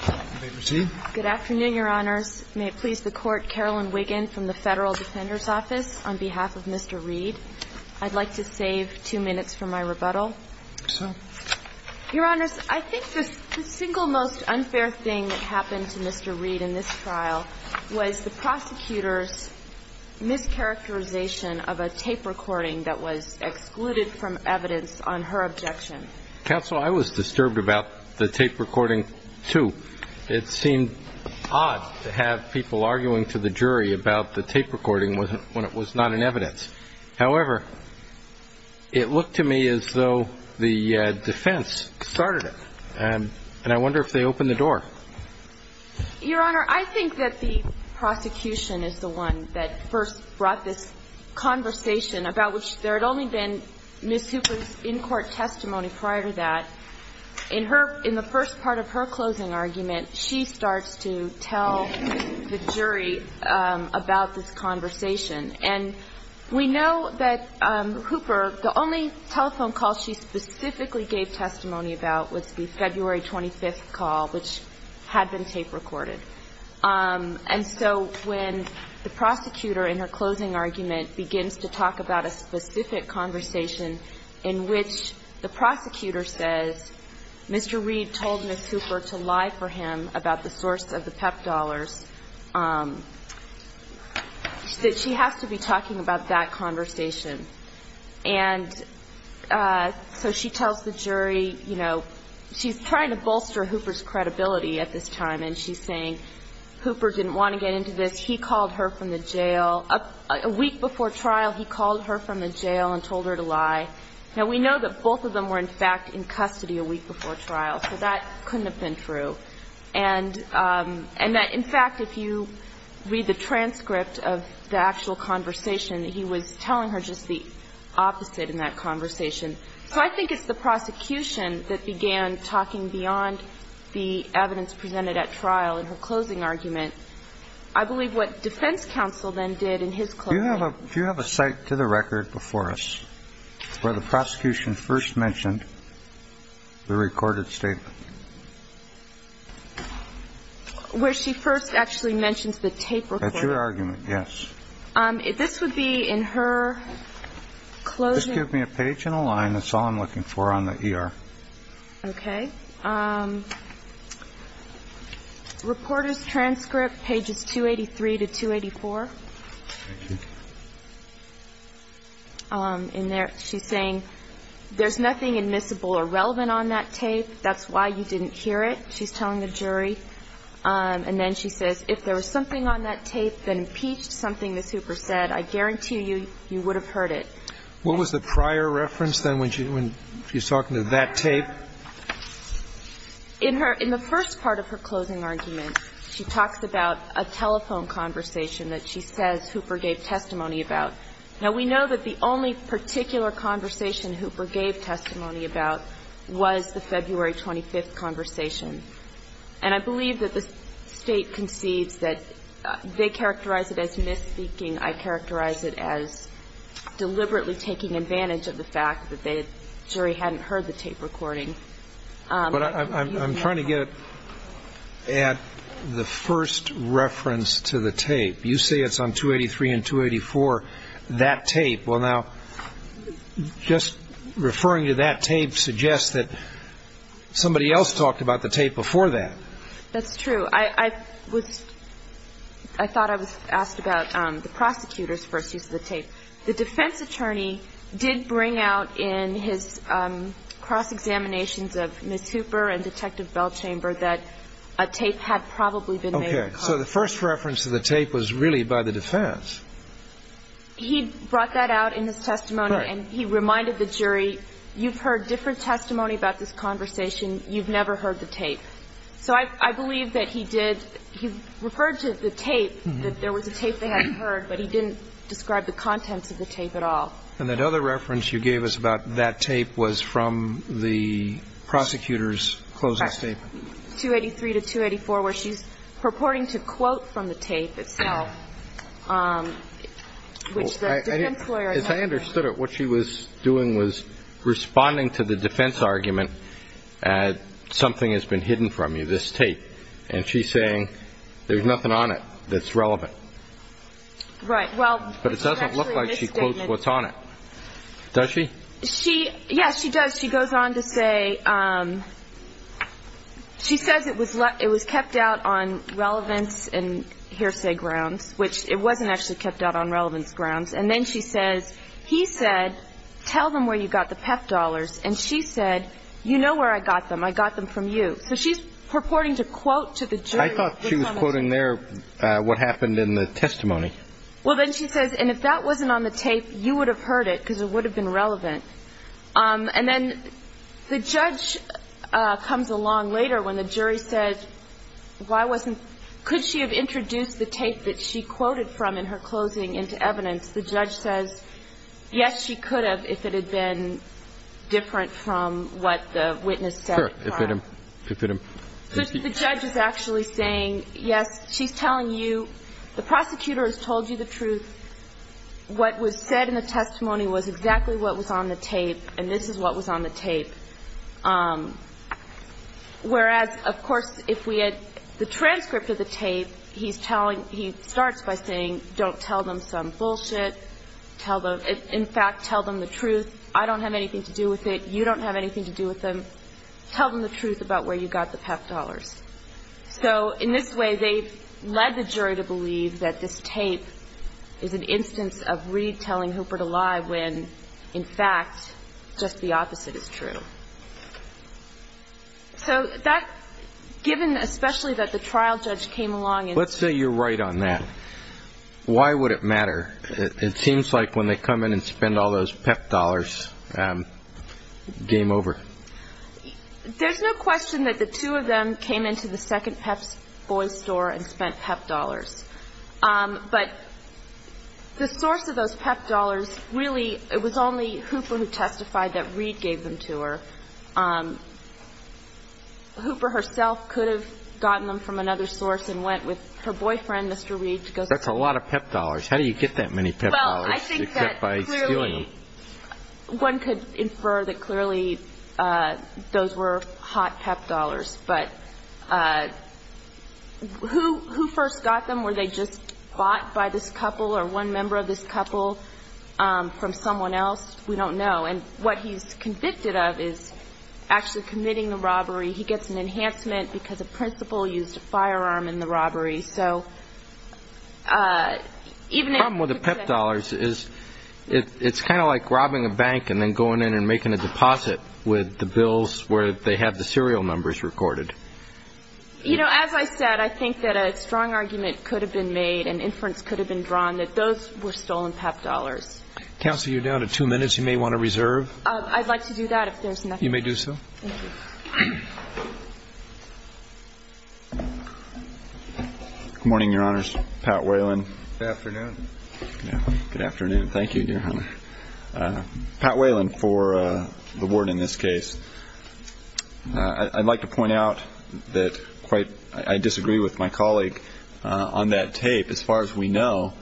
on behalf of Mr. Reed. I'd like to save two minutes for my rebuttal. Your Honors, I think the single most unfair thing that happened to Mr. Reed in this trial was the prosecutor's mischaracterization of a tape recording that was excluded from evidence on her objection. Counsel, I was disturbed about the tape recording, too. It seemed odd to have people arguing to the jury about the tape recording when it was not in evidence. However, it looked to me as though the defense started it. And I wonder if they opened the door. Your Honor, I think that the prosecution is the one that first brought this conversation about which there had only been Ms. Hooper's in-court testimony prior to that. In her – in the first part of her closing argument, she starts to tell the jury about this conversation. And we know that Hooper – the only telephone call she specifically gave testimony about was the February 25th call, which had been tape recorded. And so when the prosecutor in her closing argument begins to talk about a specific conversation in which the prosecutor says Mr. Reed told Ms. Hooper to lie for him about the source of the PEP dollars, that she has to be talking about that conversation. And so she tells the jury, you know, she's trying to bolster Hooper's credibility at this time, and she's saying Hooper didn't want to get into this. He called her from the jail – a week before trial, he called her from the jail and told her to lie. Now, we know that both of them were, in fact, in custody a week before trial. So that couldn't have been true. And that, in fact, if you read the transcript of the actual conversation, he was telling her just the opposite in that conversation. So I think it's the prosecution that began talking beyond the evidence presented at trial in her closing argument. I believe what defense counsel then did in his closing – Do you have a cite to the record before us where the prosecution first mentioned the recorded statement? Where she first actually mentions the tape recorded? That's your argument, yes. This would be in her closing – Just give me a page and a line. That's all I'm looking for on the ER. Okay. Reporter's transcript, pages 283 to 284. Thank you. In there, she's saying there's nothing admissible or relevant on that tape. That's why you didn't hear it, she's telling the jury. And then she says, If there was something on that tape that impeached something that Hooper said, I guarantee you, you would have heard it. What was the prior reference, then, when she was talking to that tape? In her – in the first part of her closing argument, she talks about a telephone conversation that she says Hooper gave testimony about. Now, we know that the only particular conversation Hooper gave testimony about was the February 25th conversation. And I believe that the State conceives that they characterize it as misspeaking. I characterize it as deliberately taking advantage of the fact that the jury hadn't heard the tape recording. But I'm trying to get at the first reference to the tape. You say it's on 283 and 284, that tape. Well, now, just referring to that tape suggests that somebody else talked about the tape before that. That's true. I was – I thought I was asked about the prosecutor's first use of the tape. The defense attorney did bring out in his cross-examinations of Miss Hooper and Detective Bellchamber that a tape had probably been made. Okay. So the first reference to the tape was really by the defense. He brought that out in his testimony. Right. And he reminded the jury, you've heard different testimony about this conversation. You've never heard the tape. So I believe that he did – he referred to the tape, that there was a tape they hadn't heard, but he didn't describe the contents of the tape at all. And that other reference you gave us about that tape was from the prosecutor's closing statement. Correct. 283 to 284, where she's purporting to quote from the tape itself, which the defense lawyer had not heard. As I understood it, what she was doing was responding to the defense argument that something has been hidden from you, this tape. And she's saying there's nothing on it that's relevant. Right. Well – But it doesn't look like she quotes what's on it. Does she? She – yes, she does. She goes on to say – she says it was kept out on relevance and hearsay grounds, which it wasn't actually kept out on relevance grounds. And then she says, he said, tell them where you got the PEP dollars. And she said, you know where I got them. I got them from you. So she's purporting to quote to the jury. I thought she was quoting there what happened in the testimony. Well, then she says, and if that wasn't on the tape, you would have heard it because it would have been relevant. And then the judge comes along later when the jury says, why wasn't – could she have introduced the tape that she quoted from in her closing into evidence? The judge says, yes, she could have if it had been different from what the witness said. Sure. If it – if it – The judge is actually saying, yes, she's telling you – the prosecutor has told you the truth. What was said in the testimony was exactly what was on the tape. And this is what was on the tape. Whereas, of course, if we had – the transcript of the tape, he's telling – he starts by saying, don't tell them some bullshit. Tell them – in fact, tell them the truth. I don't have anything to do with it. You don't have anything to do with them. Tell them the truth about where you got the PEP dollars. So in this way, they've led the jury to believe that this tape is an instance of Reed telling Hooper to lie when, in fact, just the opposite is true. So that – given especially that the trial judge came along and – let's say you're right on that. Why would it matter? It seems like when they come in and spend all those PEP dollars, game over. There's no question that the two of them came into the second Pep's Boys store and spent PEP dollars. But the source of those PEP dollars really – it was only Hooper who testified that Reed gave them to her. Hooper herself could have gotten them from another source and went with her boyfriend, Mr. Reed. That's a lot of PEP dollars. How do you get that many PEP dollars? Well, I think that clearly one could infer that clearly those were hot PEP dollars. But who first got them? Were they just bought by this couple or one member of this couple from someone else? We don't know. And what he's convicted of is actually committing the robbery. He gets an enhancement because a principal used a firearm in the robbery. So even if – The problem with the PEP dollars is it's kind of like robbing a bank and then going in and making a deposit with the bills where they have the serial numbers recorded. You know, as I said, I think that a strong argument could have been made and inference could have been drawn that those were stolen PEP dollars. Counsel, you're down to two minutes. You may want to reserve. I'd like to do that if there's nothing else. You may do so. Thank you. Good morning, Your Honors. Pat Whalen. Good afternoon. Good afternoon. Thank you, Your Honor. Pat Whalen for the ward in this case. I'd like to point out that quite – I disagree with my colleague on that tape. As far as we know,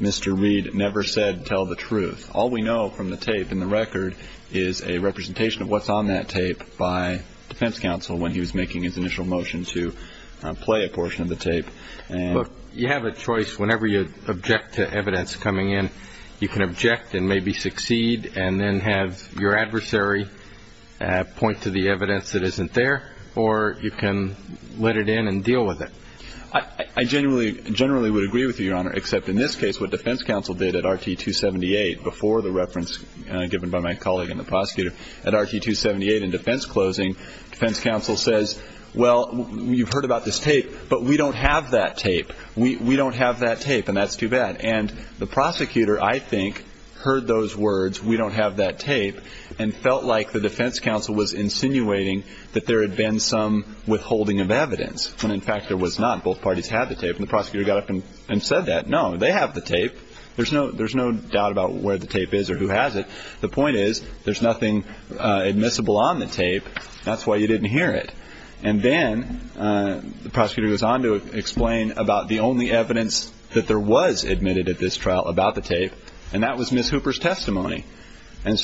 Mr. Reed never said tell the truth. All we know from the tape and the record is a representation of what's on that tape by defense counsel when he was making his initial motion to play a portion of the tape. Look, you have a choice whenever you object to evidence coming in. You can object and maybe succeed and then have your adversary point to the evidence that isn't there, or you can let it in and deal with it. I generally would agree with you, Your Honor, except in this case what defense counsel did at RT-278 before the reference given by my colleague and the prosecutor, at RT-278 in defense closing, defense counsel says, well, you've heard about this tape, but we don't have that tape. We don't have that tape, and that's too bad. And the prosecutor, I think, heard those words, we don't have that tape, and felt like the defense counsel was insinuating that there had been some withholding of evidence when, in fact, there was not. Both parties had the tape, and the prosecutor got up and said that. No, they have the tape. There's no doubt about where the tape is or who has it. The point is there's nothing admissible on the tape. That's why you didn't hear it. And then the prosecutor goes on to explain about the only evidence that there was admitted at this trial about the tape, and that was Ms. Hooper's testimony. She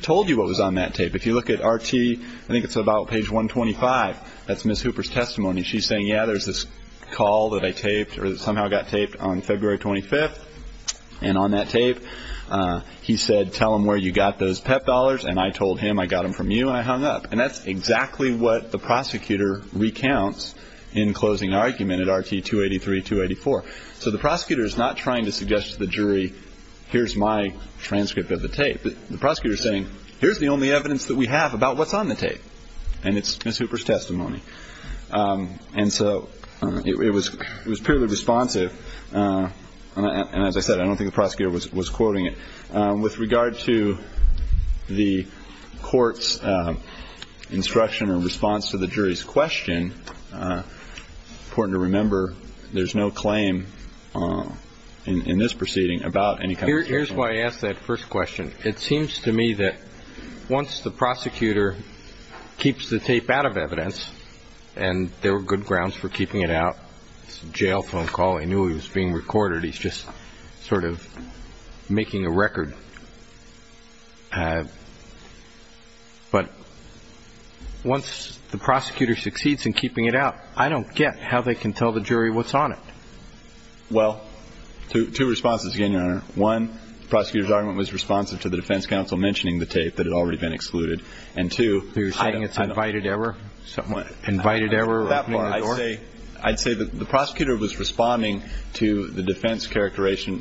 told you what was on that tape. If you look at RT, I think it's about page 125, that's Ms. Hooper's testimony. She's saying, yeah, there's this call that I taped or that somehow got taped on February 25th, and on that tape he said, tell them where you got those PEP dollars, and I told him I got them from you and I hung up. And that's exactly what the prosecutor recounts in closing argument at RT-283, 284. So the prosecutor is not trying to suggest to the jury, here's my transcript of the tape. The prosecutor is saying, here's the only evidence that we have about what's on the tape, and it's Ms. Hooper's testimony. And so it was purely responsive, and as I said, I don't think the prosecutor was quoting it. With regard to the court's instruction or response to the jury's question, it's important to remember there's no claim in this proceeding about any kind of question. Here's why I asked that first question. It seems to me that once the prosecutor keeps the tape out of evidence, and there were good grounds for keeping it out, it's a jail phone call, he knew he was being recorded, he's just sort of making a record, but once the prosecutor succeeds in keeping it out, I don't get how they can tell the jury what's on it. Well, two responses again, Your Honor. One, the prosecutor's argument was responsive to the defense counsel mentioning the tape that had already been excluded. And two, I don't know. You're saying it's an invited error? What? Invited error? I'd say that the prosecutor was responding to the defense characterization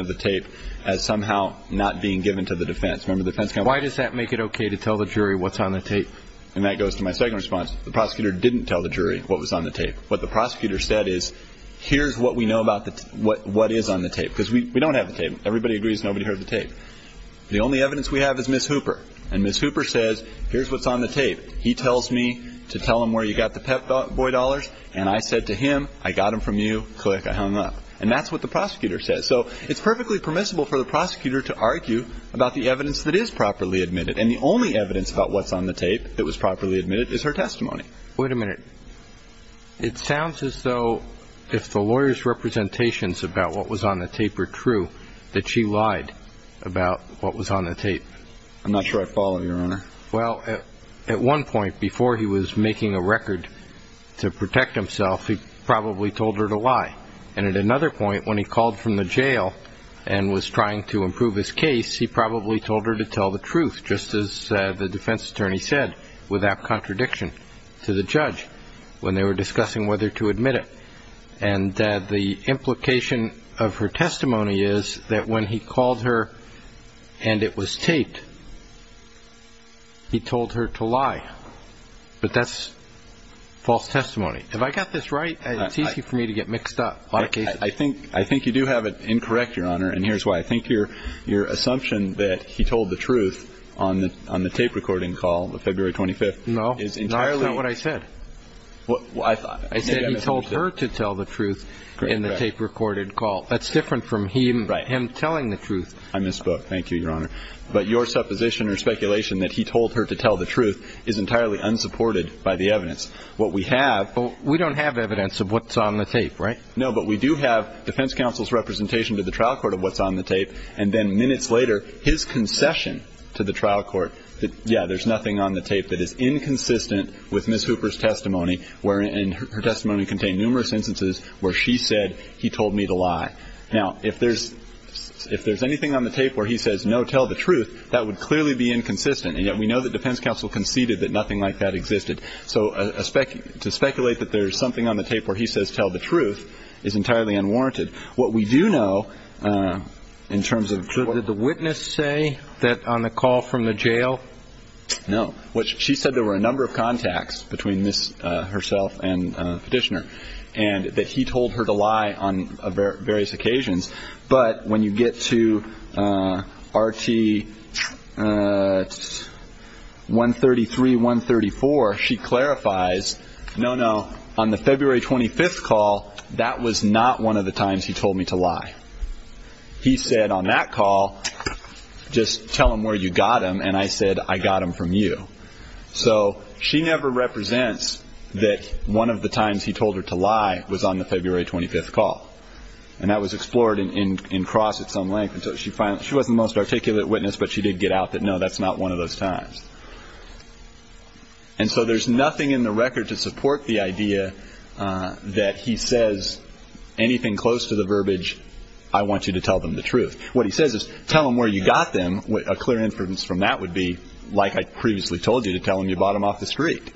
of the tape as somehow not being given to the defense. Remember, the defense counsel... Why does that make it okay to tell the jury what's on the tape? And that goes to my second response. The prosecutor didn't tell the jury what was on the tape. What the prosecutor said is, here's what we know about what is on the tape. Because we don't have the tape. Everybody agrees nobody heard the tape. The only evidence we have is Ms. Hooper. And Ms. Hooper says, here's what's on the tape. He tells me to tell him where you got the Pep Boy dollars, and I said to him, I got them from you, click, I hung up. And that's what the prosecutor says. So it's perfectly permissible for the prosecutor to argue about the evidence that is properly admitted. And the only evidence about what's on the tape that was properly admitted is her testimony. Wait a minute. It sounds as though if the lawyer's representations about what was on the tape are true, that she lied about what was on the tape. I'm not sure I follow, Your Honor. Well, at one point, before he was making a record to protect himself, he probably told her to lie. And at another point, when he called from the jail and was trying to improve his case, he probably told her to tell the truth, just as the defense attorney said, without contradiction to the judge when they were discussing whether to admit it. And the implication of her testimony is that when he called her and it was taped, he told her to lie. But that's false testimony. Have I got this right? It's easy for me to get mixed up. I think you do have it incorrect, Your Honor, and here's why. I think your assumption that he told the truth on the tape-recording call of February 25th is entirely- No. Not what I said. I said he told her to tell the truth in the tape-recorded call. That's different from him telling the truth. I misspoke. Thank you, Your Honor. But your supposition or speculation that he told her to tell the truth is entirely unsupported by the evidence. What we have- Well, we don't have evidence of what's on the tape, right? No, but we do have defense counsel's representation to the trial court of what's on the tape. And then minutes later, his concession to the trial court that, yeah, there's nothing on the tape that is inconsistent with Ms. Hooper's testimony, wherein her testimony contained numerous instances where she said he told me to lie. Now, if there's anything on the tape where he says, no, tell the truth, that would clearly be inconsistent. And yet we know that defense counsel conceded that nothing like that existed. So to speculate that there's something on the tape where he says tell the truth is entirely unwarranted. What we do know in terms of- Did the witness say that on the call from the jail? No. She said there were a number of contacts between Ms. herself and Petitioner, and that he told her to lie on various occasions. But when you get to RT-133, 134, she clarifies, no, no, on the February 25th call, that was not one of the times he told me to lie. He said on that call, just tell him where you got him, and I said I got him from you. So she never represents that one of the times he told her to lie was on the February 25th call. And that was explored in cross at some length until she finally- she wasn't the most articulate witness, but she did get out that, no, that's not one of those times. And so there's nothing in the record to support the idea that he says anything close to the verbiage, I want you to tell them the truth. What he says is tell them where you got them. A clear inference from that would be like I previously told you to tell him you bought him off the street.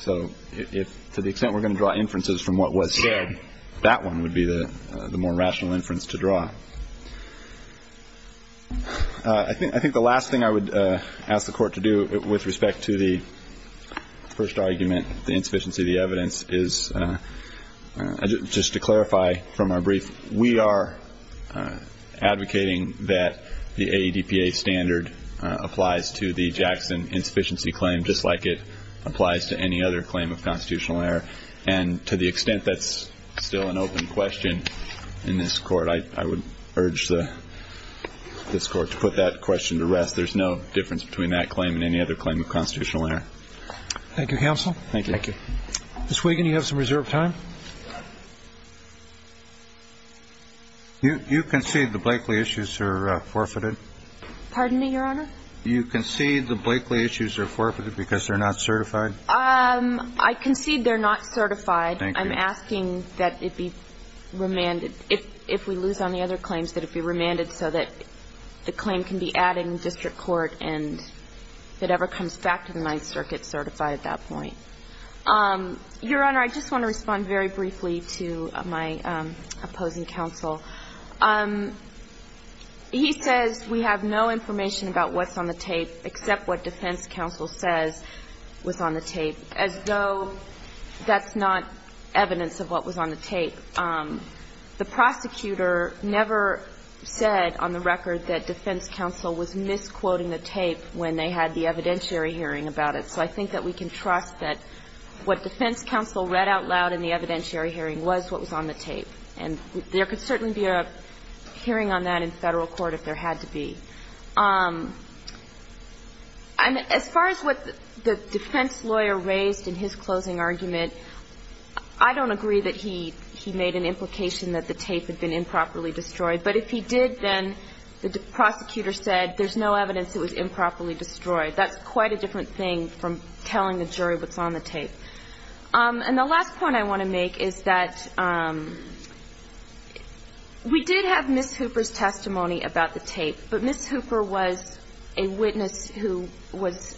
So to the extent we're going to draw inferences from what was said, that one would be the more rational inference to draw. I think the last thing I would ask the Court to do with respect to the first argument, the insufficiency of the evidence, is just to clarify from our brief, we are advocating that the AEDPA standard applies to the Jackson insufficiency claim just like it applies to any other claim of constitutional error. And to the extent that's still an open question in this Court, I would urge this Court to put that question to rest. There's no difference between that claim and any other claim of constitutional error. Thank you, Counsel. Thank you. Ms. Wiggin, you have some reserved time. You concede the Blakely issues are forfeited? Pardon me, Your Honor? You concede the Blakely issues are forfeited because they're not certified? I concede they're not certified. Thank you. I'm asking that it be remanded, if we lose on the other claims, that it be remanded so that the claim can be added in district court and it ever comes back to the Ninth Circuit certified at that point. Your Honor, I just want to respond very briefly to my opposing counsel. He says we have no information about what's on the tape except what defense counsel says was on the tape, as though that's not evidence of what was on the tape. And the prosecutor never said on the record that defense counsel was misquoting the tape when they had the evidentiary hearing about it. So I think that we can trust that what defense counsel read out loud in the evidentiary hearing was what was on the tape. And there could certainly be a hearing on that in Federal court if there had to be. And as far as what the defense lawyer raised in his closing argument, I don't agree that he made an implication that the tape had been improperly destroyed. But if he did, then the prosecutor said there's no evidence it was improperly destroyed. That's quite a different thing from telling the jury what's on the tape. And the last point I want to make is that we did have Ms. Hooper's testimony about the tape, but Ms. Hooper was a witness who was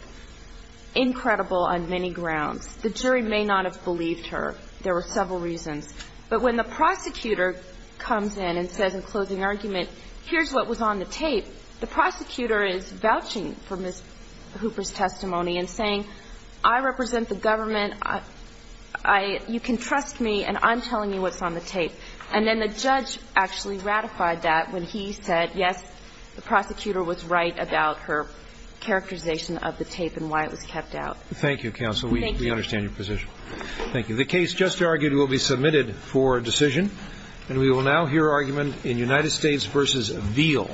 incredible on many grounds. The jury may not have believed her. There were several reasons. But when the prosecutor comes in and says in closing argument, here's what was on the tape, the prosecutor is vouching for Ms. Hooper's testimony and saying, I represent the government. I – you can trust me, and I'm telling you what's on the tape. And then the judge actually ratified that when he said, yes, the prosecutor was right about her characterization of the tape and why it was kept out. Thank you, counsel. We understand your position. Thank you. The case just argued will be submitted for decision. And we will now hear argument in United States v. Veal.